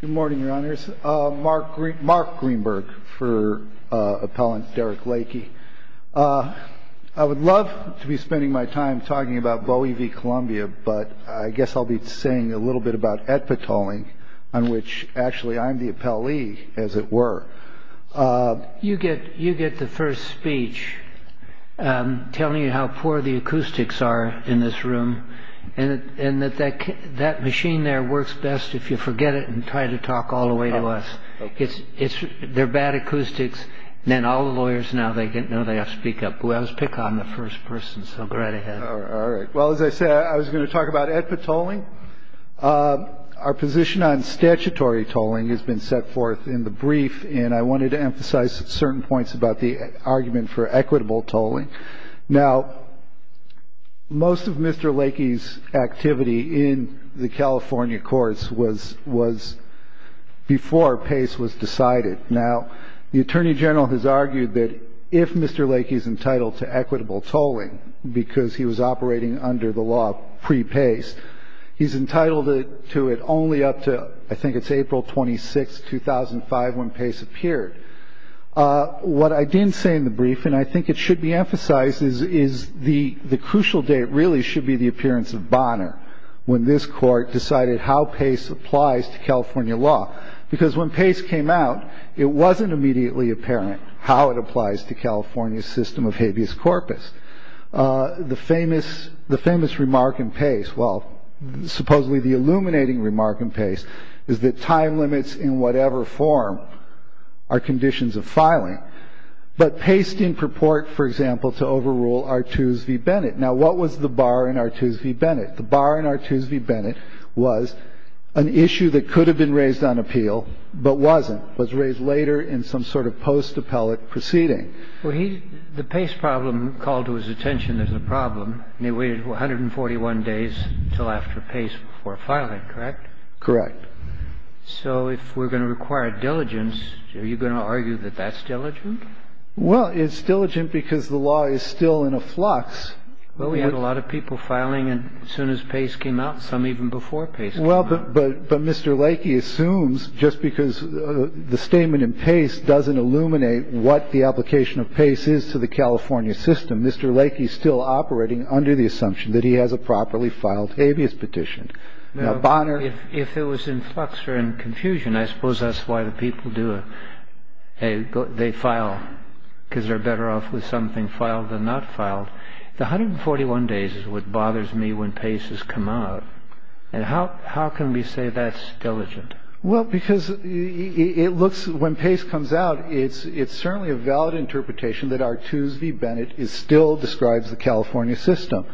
Good morning, your honors. Mark Greenberg for appellant Derrick Lakey. I would love to be spending my time talking about Bowie v. Columbia, but I guess I'll be saying a little bit about etpatoling, on which actually I'm the appellee, as it were. You get the first speech telling you how poor the acoustics are in this room, and that machine there works best if you forget it and try to talk all the way to us. They're bad acoustics, and all the lawyers now, they know they have to speak up. I was pick on the first person, so go right ahead. All right. Well, as I said, I was going to talk about etpatoling. Our position on statutory toling has been set forth in the brief, and I wanted to emphasize certain points about the argument for equitable toling. Now, most of Mr. Lakey's activity in the California courts was before PACE was decided. Now, the attorney general has argued that if Mr. Lakey is entitled to equitable toling, because he was operating under the law pre-PACE, he's entitled to it only up to, I think it's April 26, 2005, when PACE appeared. What I didn't say in the brief, and I think it should be emphasized, is the crucial date really should be the appearance of Bonner when this court decided how PACE applies to California law. Because when PACE came out, it wasn't immediately apparent how it applies to California's system of habeas corpus. The famous remark in PACE, well, supposedly the illuminating remark in PACE, is that time limits in whatever form are conditions of filing. But PACE didn't purport, for example, to overrule Artoos v. Bennett. Now, what was the bar in Artoos v. Bennett? The bar in Artoos v. Bennett was an issue that could have been raised on appeal but wasn't, was raised later in some sort of post-appellate proceeding. Well, he – the PACE problem called to his attention as a problem, and he waited 141 days until after PACE before filing, correct? Correct. So if we're going to require diligence, are you going to argue that that's diligent? Well, it's diligent because the law is still in a flux. Well, we had a lot of people filing as soon as PACE came out, some even before PACE came out. Well, but Mr. Lakey assumes just because the statement in PACE doesn't illuminate what the application of PACE is to the California system, Mr. Lakey is still operating under the assumption that he has a properly filed habeas petition. Now, Bonner – If it was in flux or in confusion, I suppose that's why the people do it. They file because they're better off with something filed than not filed. The 141 days is what bothers me when PACE has come out, and how can we say that's diligent? Well, because it looks – when PACE comes out, it's certainly a valid interpretation that Artoos v. Bennett still describes the California system.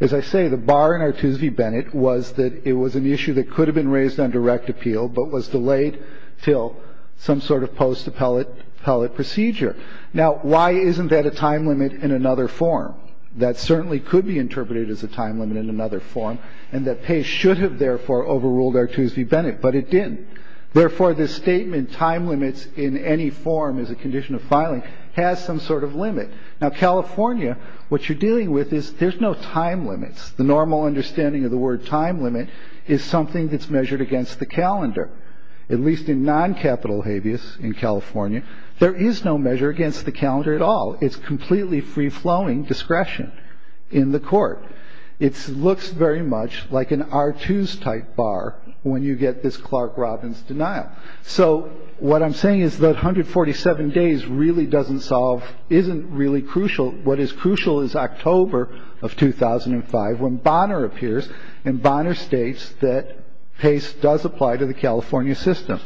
As I say, the bar in Artoos v. Bennett was that it was an issue that could have been raised on direct appeal but was delayed until some sort of post-appellate procedure. Now, why isn't that a time limit in another form? That certainly could be interpreted as a time limit in another form, and that PACE should have, therefore, overruled Artoos v. Bennett, but it didn't. Therefore, this statement, time limits in any form as a condition of filing, has some sort of limit. Now, California, what you're dealing with is there's no time limits. The normal understanding of the word time limit is something that's measured against the calendar. At least in non-capital habeas in California, there is no measure against the calendar at all. It's completely free-flowing discretion in the court. It looks very much like an Artoos-type bar when you get this Clark Robbins denial. So what I'm saying is that 147 days really doesn't solve, isn't really crucial. What is crucial is October of 2005 when Bonner appears, and Bonner states that PACE does apply to the California system.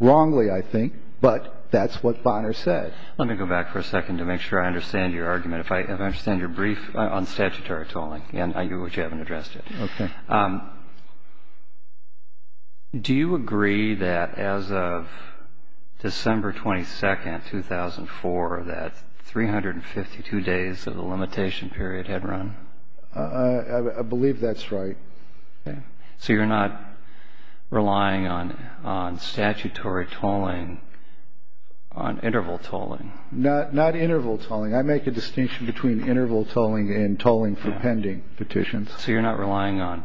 Wrongly, I think, but that's what Bonner said. Let me go back for a second to make sure I understand your argument. If I understand your brief on statutory tolling, and I hear what you haven't addressed Do you agree that as of December 22, 2004, that 352 days of the limitation period had run? I believe that's right. So you're not relying on statutory tolling, on interval tolling? Not interval tolling. I make a distinction between interval tolling and tolling for pending petitions. So you're not relying on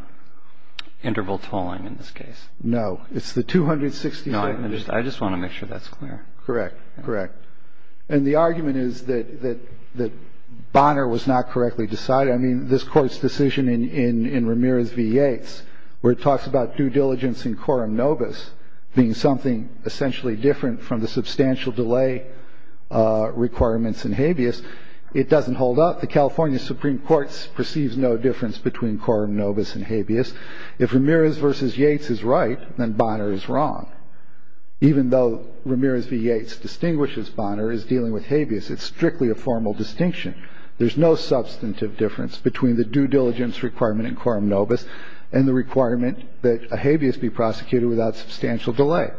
interval tolling in this case? No. It's the 267 days. I just want to make sure that's clear. Correct. Correct. And the argument is that Bonner was not correctly decided. I mean, this Court's decision in Ramirez v. Yates, where it talks about due diligence in quorum nobis being something essentially different from the substantial delay requirements in habeas, it doesn't hold up. The California Supreme Court perceives no difference between quorum nobis and habeas. If Ramirez v. Yates is right, then Bonner is wrong. Even though Ramirez v. Yates distinguishes Bonner as dealing with habeas, it's strictly a formal distinction. There's no substantive difference between the due diligence requirement in quorum nobis and the requirement that a habeas be prosecuted without substantial delay.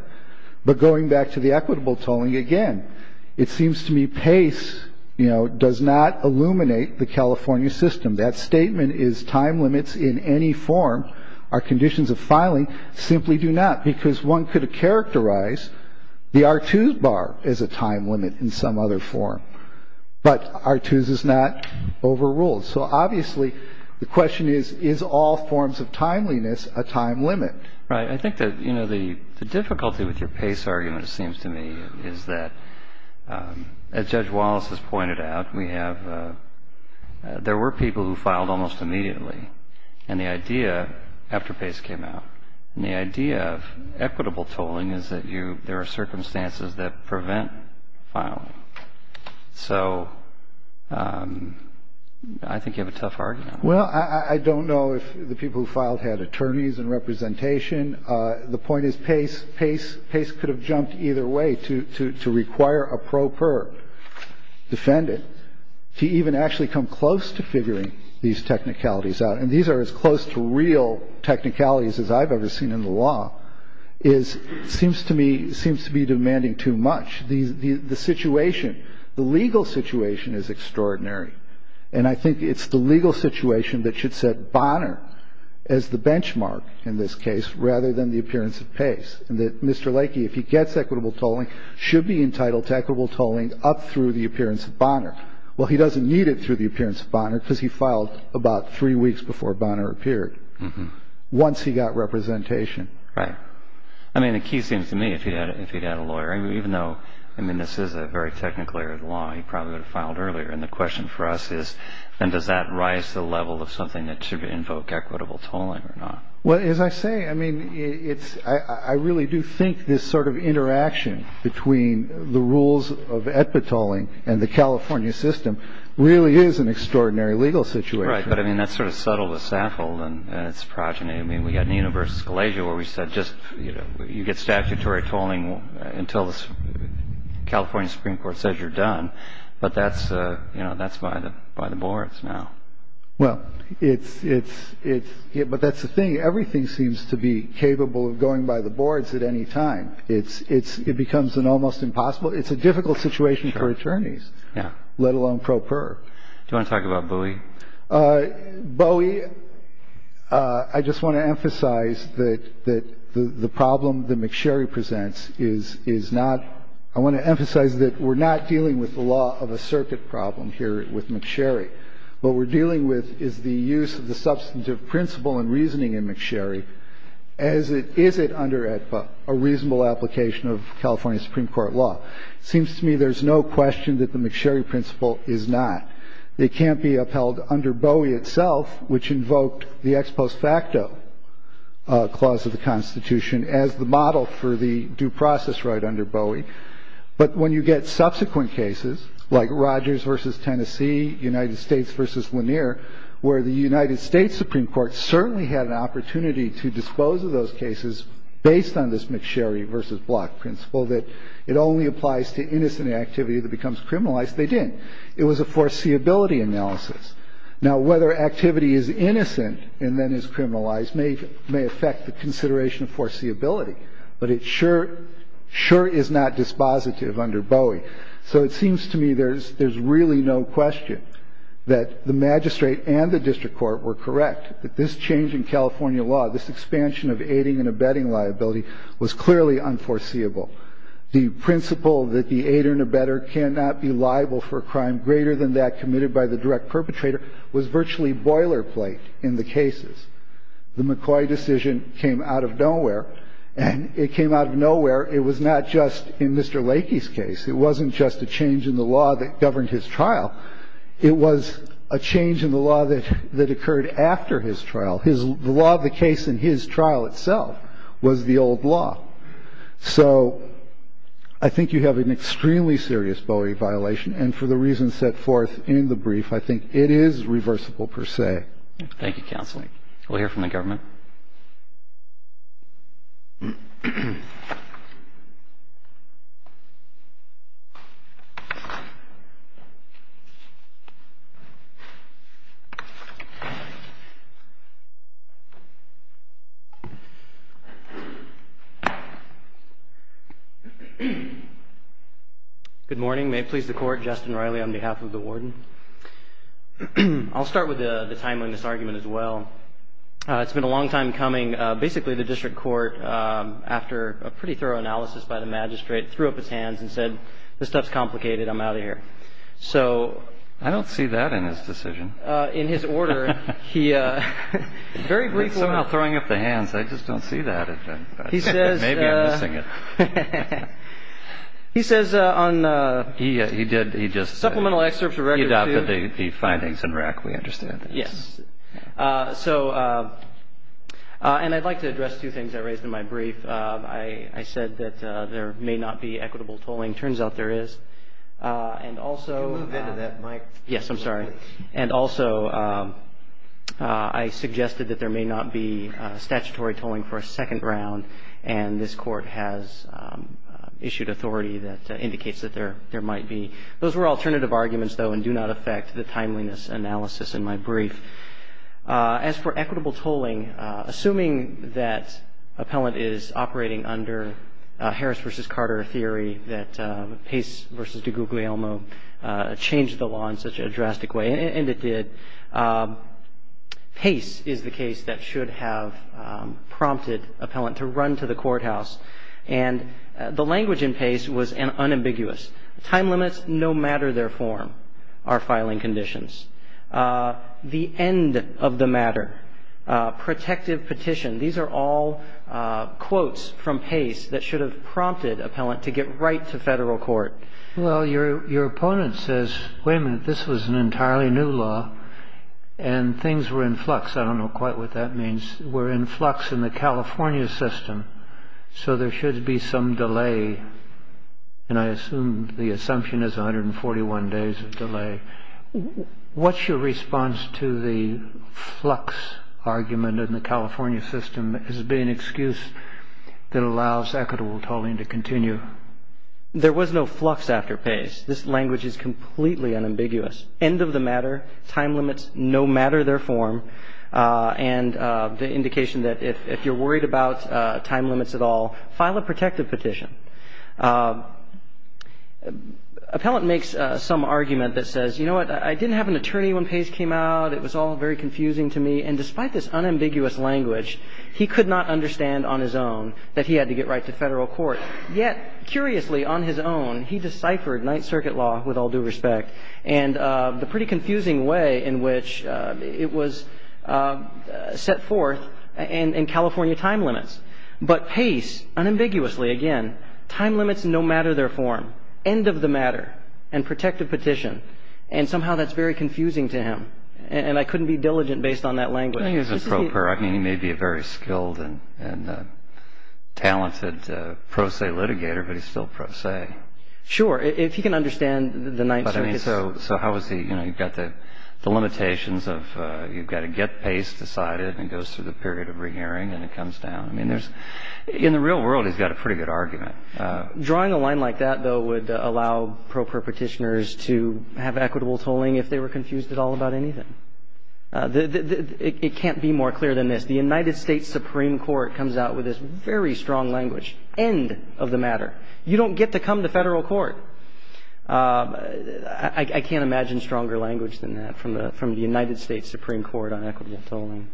But going back to the equitable tolling, again, it seems to me PACE, you know, does not illuminate the California system. That statement is time limits in any form. Our conditions of filing simply do not, because one could characterize the R2s bar as a time limit in some other form. But R2s is not overruled. So obviously the question is, is all forms of timeliness a time limit? Right. I think that, you know, the difficulty with your PACE argument, it seems to me, is that, as Judge Wallace has pointed out, we have — there were people who filed almost immediately. And the idea, after PACE came out, and the idea of equitable tolling is that you — there are circumstances that prevent filing. So I think you have a tough argument. Well, I don't know if the people who filed had attorneys and representation. The point is PACE could have jumped either way to require a pro per defendant to even actually come close to figuring these technicalities out. And these are as close to real technicalities as I've ever seen in the law, is — seems to me — seems to be demanding too much. The situation, the legal situation is extraordinary. And I think it's the legal situation that should set Bonner as the benchmark in this case rather than the appearance of PACE, and that Mr. Lakey, if he gets equitable tolling, should be entitled to equitable tolling up through the appearance of Bonner. Well, he doesn't need it through the appearance of Bonner because he filed about three weeks before Bonner appeared, once he got representation. Right. I mean, the key seems to me, if he'd had a lawyer — even though, I mean, this is a very technical area of the law, he probably would have filed earlier. And the question for us is, then, does that rise to the level of something that should invoke equitable tolling or not? Well, as I say, I mean, it's — I really do think this sort of interaction between the rules of EBIT tolling and the California system really is an extraordinary legal situation. Right. But, I mean, that's sort of subtle to Saffold, and it's progeny. I mean, we had in the University of Scalasia where we said just, you know, California Supreme Court says you're done, but that's, you know, that's by the boards now. Well, it's — but that's the thing. Everything seems to be capable of going by the boards at any time. It becomes an almost impossible — it's a difficult situation for attorneys, let alone pro per. Do you want to talk about Bowie? Bowie, I just want to emphasize that the problem that McSherry presents is not — I want to emphasize that we're not dealing with the law of a circuit problem here with McSherry. What we're dealing with is the use of the substantive principle and reasoning in McSherry as it — is it under a reasonable application of California Supreme Court law. It seems to me there's no question that the McSherry principle is not. It can't be upheld under Bowie itself, which invoked the ex post facto clause of the Constitution as the model for the due process right under Bowie. But when you get subsequent cases like Rogers v. Tennessee, United States v. Lanier, where the United States Supreme Court certainly had an opportunity to dispose of those cases based on this McSherry v. Block principle, that it only applies to innocent activity that becomes criminalized, they didn't. It was a foreseeability analysis. Now, whether activity is innocent and then is criminalized may affect the consideration of foreseeability. But it sure — sure is not dispositive under Bowie. So it seems to me there's really no question that the magistrate and the district court were correct, that this change in California law, this expansion of aiding and abetting liability, was clearly unforeseeable. The principle that the aider and abetter cannot be liable for a crime greater than that committed by the direct perpetrator was virtually boilerplate in the cases. The McCoy decision came out of nowhere, and it came out of nowhere. It was not just in Mr. Lakey's case. It wasn't just a change in the law that governed his trial. It was a change in the law that occurred after his trial. The law of the case in his trial itself was the old law. So I think you have an extremely serious Bowie violation, and for the reasons set forth in the brief, I think it is reversible per se. Thank you, Counsel. We'll hear from the government. Good morning. May it please the Court. Justin Riley on behalf of the Warden. I'll start with the timeliness argument as well. It's been a long time coming. Basically, the district court, after a pretty thorough analysis by the magistrate, threw up its hands and said, this stuff's complicated. I'm out of here. So... I don't see that in his decision. In his order, he very briefly... Somehow throwing up the hands. I just don't see that. He says... Maybe I'm missing it. He says on... He did. He just... The findings in rec, we understand. Yes. So... And I'd like to address two things I raised in my brief. I said that there may not be equitable tolling. Turns out there is. And also... Can you move into that, Mike? Yes, I'm sorry. And also, I suggested that there may not be statutory tolling for a second round, and this Court has issued authority that indicates that there might be. Those were alternative arguments, though, and do not affect the timeliness analysis in my brief. As for equitable tolling, assuming that appellant is operating under Harris v. Carter theory, that Pace v. DiGuglielmo changed the law in such a drastic way, and it did, Pace is the case that should have prompted appellant to run to the courthouse. And the language in Pace was unambiguous. Time limits, no matter their form, are filing conditions. The end of the matter. Protective petition. These are all quotes from Pace that should have prompted appellant to get right to federal court. Well, your opponent says, wait a minute, this was an entirely new law, and things were in flux. I don't know quite what that means. We're in flux in the California system, so there should be some delay. And I assume the assumption is 141 days of delay. What's your response to the flux argument in the California system as being an excuse that allows equitable tolling to continue? There was no flux after Pace. This language is completely unambiguous. End of the matter. Time limits, no matter their form. And the indication that if you're worried about time limits at all, file a protective petition. Appellant makes some argument that says, you know what, I didn't have an attorney when Pace came out. It was all very confusing to me. And despite this unambiguous language, he could not understand on his own that he had to get right to federal court. Yet, curiously, on his own, he deciphered Ninth Circuit law, with all due respect, and the pretty confusing way in which it was set forth in California time limits. But Pace, unambiguously again, time limits no matter their form. End of the matter. And protective petition. And somehow that's very confusing to him. And I couldn't be diligent based on that language. I think it's appropriate. I mean, he may be a very skilled and talented pro se litigator, but he's still pro se. Sure. If he can understand the Ninth Circuit's. But I mean, so how is he, you know, you've got the limitations of you've got to get Pace decided, and it goes through the period of rehearing, and it comes down. I mean, in the real world, he's got a pretty good argument. Drawing a line like that, though, would allow pro perpetitioners to have equitable tolling if they were confused at all about anything. It can't be more clear than this. The United States Supreme Court comes out with this very strong language. End of the matter. You don't get to come to federal court. I can't imagine stronger language than that from the United States Supreme Court on equitable tolling.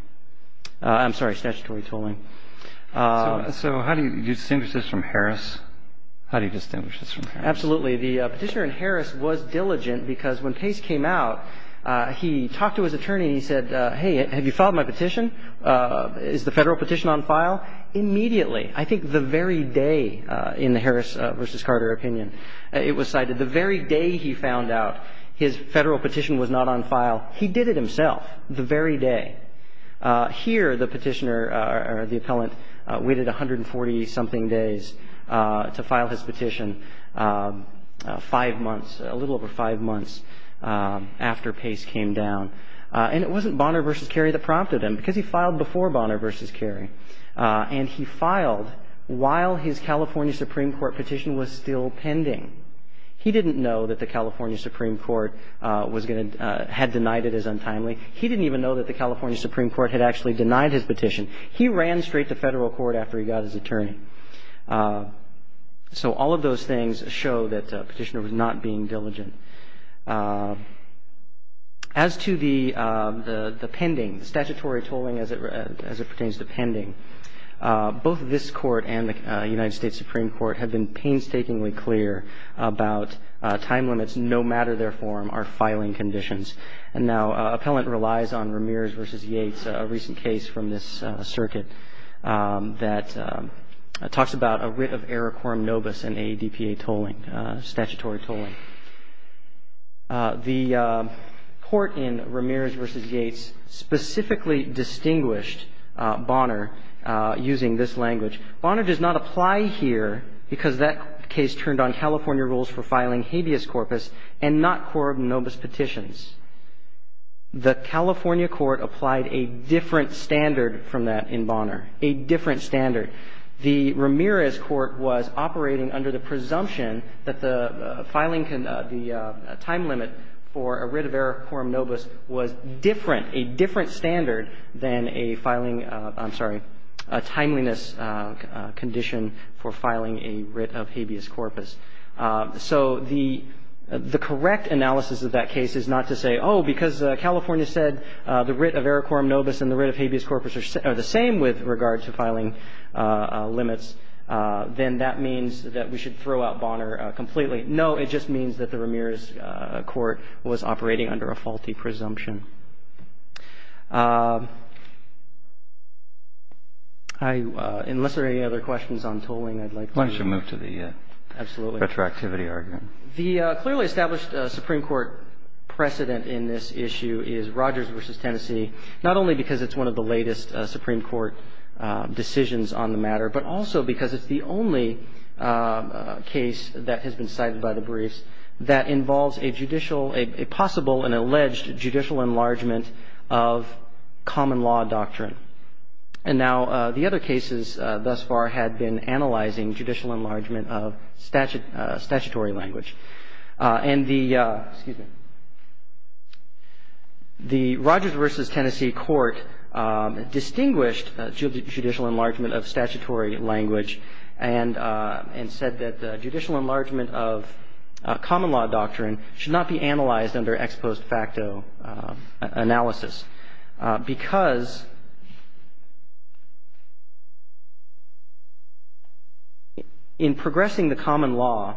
I'm sorry, statutory tolling. So how do you distinguish this from Harris? How do you distinguish this from Harris? Absolutely. The petitioner in Harris was diligent because when Pace came out, he talked to his attorney. He said, hey, have you filed my petition? Is the federal petition on file? Immediately, I think the very day in the Harris versus Carter opinion, it was cited. The very day he found out his federal petition was not on file, he did it himself the very day. Here, the petitioner or the appellant waited 140-something days to file his petition, five months, a little over five months after Pace came down. And it wasn't Bonner v. Cary that prompted him because he filed before Bonner v. Cary. And he filed while his California Supreme Court petition was still pending. He didn't know that the California Supreme Court had denied it as untimely. He didn't even know that the California Supreme Court had actually denied his petition. He ran straight to federal court after he got his attorney. So all of those things show that the petitioner was not being diligent. As to the pending, statutory tolling as it pertains to pending, both this Court and the United States Supreme Court have been painstakingly clear about time limits no matter their form are filing conditions. And now, appellant relies on Ramirez v. Yates, a recent case from this circuit that talks about a writ of error quorum nobis in AEDPA tolling, statutory tolling. The Court in Ramirez v. Yates specifically distinguished Bonner using this language. Bonner does not apply here because that case turned on California rules for filing habeas corpus and not quorum nobis petitions. The California Court applied a different standard from that in Bonner, a different standard. The Ramirez Court was operating under the presumption that the filing the time limit for a writ of error quorum nobis was different, a different standard than a filing of, I'm sorry, a timeliness condition for filing a writ of habeas corpus. So the correct analysis of that case is not to say, oh, because California said the writ of error quorum nobis and the writ of habeas corpus are the same with regard to filing limits, then that means that we should throw out Bonner completely. No, it just means that the Ramirez Court was operating under a faulty presumption. Unless there are any other questions on tolling, I'd like to move to the retroactivity argument. The clearly established Supreme Court precedent in this issue is Rogers v. Tennessee, not only because it's one of the latest Supreme Court decisions on the matter, but also because it's the only case that has been cited by the briefs that involves a judicial – a possible and alleged judicial enlargement of common law doctrine. And now the other cases thus far had been analyzing judicial enlargement of statutory language. And the – excuse me – the Rogers v. Tennessee court distinguished judicial enlargement of statutory language and said that the judicial enlargement of common law doctrine should not be analyzed under ex post facto analysis because in progressing the common law,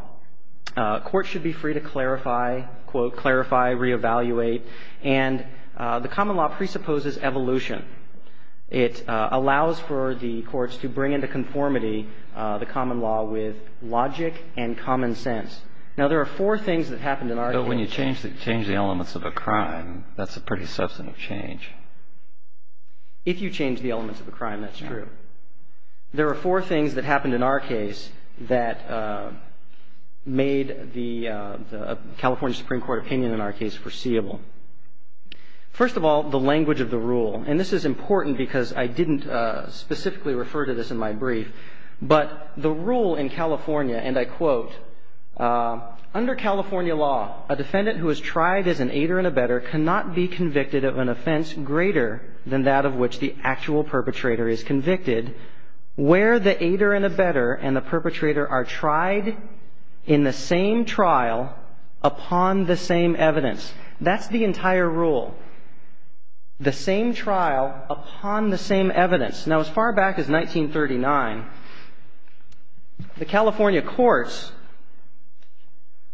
courts should be free to clarify, quote, clarify, reevaluate, and the common law presupposes evolution. It allows for the courts to bring into conformity the common law with logic and common sense. Now, there are four things that happened in our case. But when you change the elements of a crime, that's a pretty substantive change. If you change the elements of a crime, that's true. There are four things that happened in our case that made the California Supreme Court opinion in our case foreseeable. First of all, the language of the rule. And this is important because I didn't specifically refer to this in my brief. But the rule in California, and I quote, That's the entire rule. The same trial upon the same evidence. Now, as far back as 1939, the California courts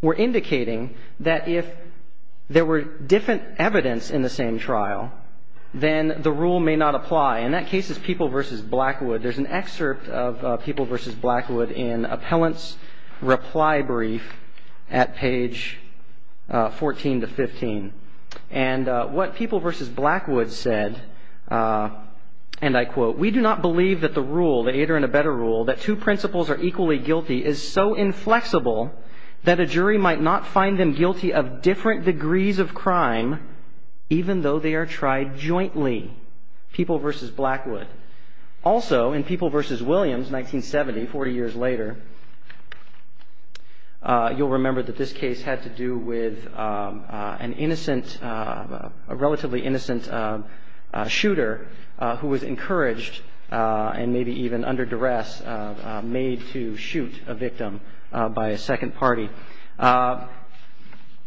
were indicating that if there were different evidence in the same trial, then the rule may not apply. In that case, it's People v. Blackwood. There's an excerpt of People v. Blackwood in Appellant's reply brief at page 14 to 15. And what People v. Blackwood said, and I quote, Also, in People v. Williams, 1970, 40 years later, you'll remember that this case had to do with an innocent, a relatively innocent shooter who was encouraged and maybe even under duress made to shoot a victim by a second party.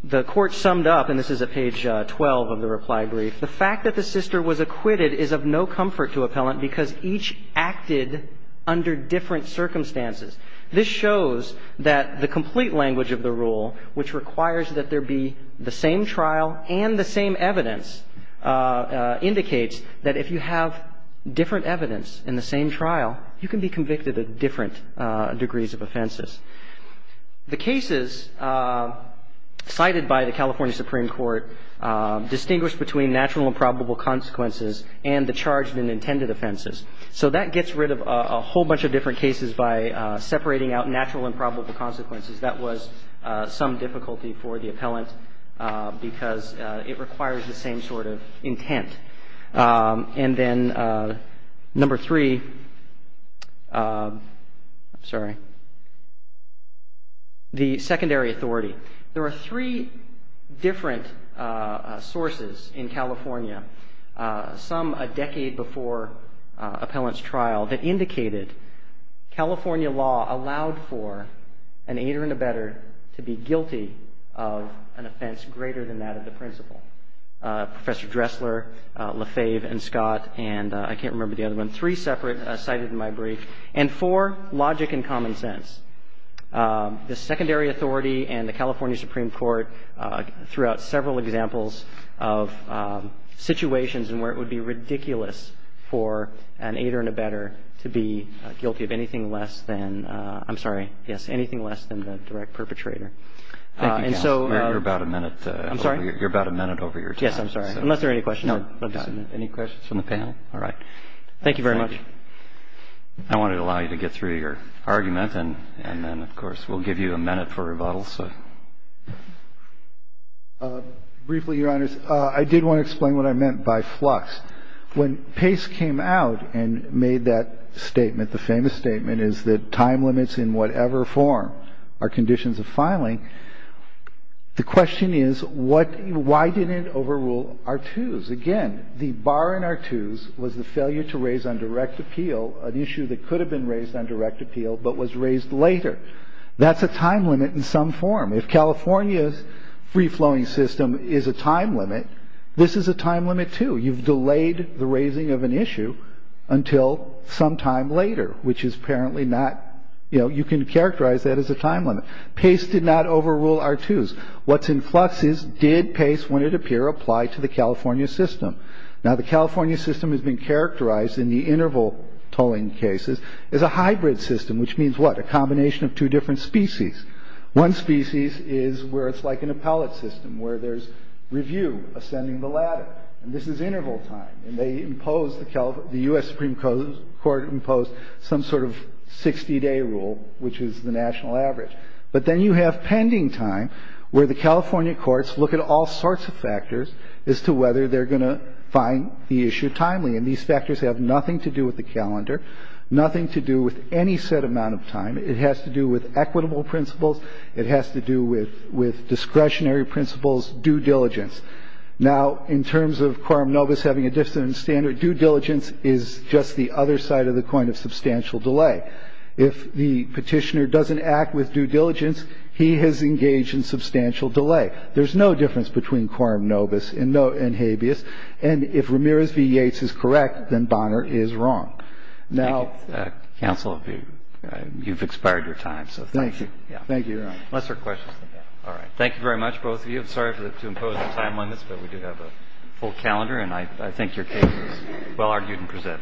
The court summed up, and this is at page 12 of the reply brief, The fact that the sister was acquitted is of no comfort to Appellant because each acted under different circumstances. This shows that the complete language of the rule, which requires that there be the same trial and the same evidence, indicates that if you have different evidence in the same trial, you can be convicted of different degrees of offenses. The cases cited by the California Supreme Court distinguish between natural and probable consequences and the charged and intended offenses. So that gets rid of a whole bunch of different cases by separating out natural and probable consequences. That was some difficulty for the Appellant because it requires the same sort of intent. And then number three, I'm sorry. The secondary authority. There are three different sources in California, some a decade before Appellant's trial, that indicated California law allowed for an aider and abetter to be guilty of an offense greater than that of the principal. Professor Dressler, Lefebvre, and Scott, and I can't remember the other one, three separate cited in my brief. And four, logic and common sense. The secondary authority and the California Supreme Court threw out several examples of situations where it would be ridiculous for an aider and abetter to be guilty of anything less than, I'm sorry, yes, anything less than the direct perpetrator. And so. You're about a minute over your time. Yes, I'm sorry. Unless there are any questions. No. Any questions from the panel? All right. Thank you very much. I wanted to allow you to get through your argument and then, of course, we'll give you a minute for rebuttal. Briefly, Your Honors, I did want to explain what I meant by flux. When Pace came out and made that statement, the famous statement is that time limits in whatever form are conditions of filing, the question is why didn't it overrule R-2s? Again, the bar in R-2s was the failure to raise on direct appeal an issue that could have been raised on direct appeal but was raised later. That's a time limit in some form. If California's free-flowing system is a time limit, this is a time limit, too. You've delayed the raising of an issue until some time later, which is apparently not, you know, you can characterize that as a time limit. Pace did not overrule R-2s. What's in flux is did Pace, when it appeared, apply to the California system? Now, the California system has been characterized in the interval tolling cases as a hybrid system, which means what? A combination of two different species. One species is where it's like an appellate system where there's review ascending the ladder, and this is interval time, and they impose the US Supreme Court imposed some sort of 60-day rule, which is the national average. But then you have pending time where the California courts look at all sorts of factors as to whether they're going to find the issue timely, and these factors have nothing to do with the calendar, nothing to do with any set amount of time. It has to do with equitable principles. It has to do with discretionary principles, due diligence. Now, in terms of quorum novus having a different standard, due diligence is just the other side of the coin of substantial delay. If the Petitioner doesn't act with due diligence, he has engaged in substantial delay. There's no difference between quorum novus and habeas. And if Ramirez v. Yates is correct, then Bonner is wrong. Now... Thank you, counsel. You've expired your time, so thank you. Thank you, Your Honor. Unless there are questions in the back. All right. Thank you very much, both of you. I'm sorry to impose the time limits, but we do have a full calendar, and I think your case is well argued and presented.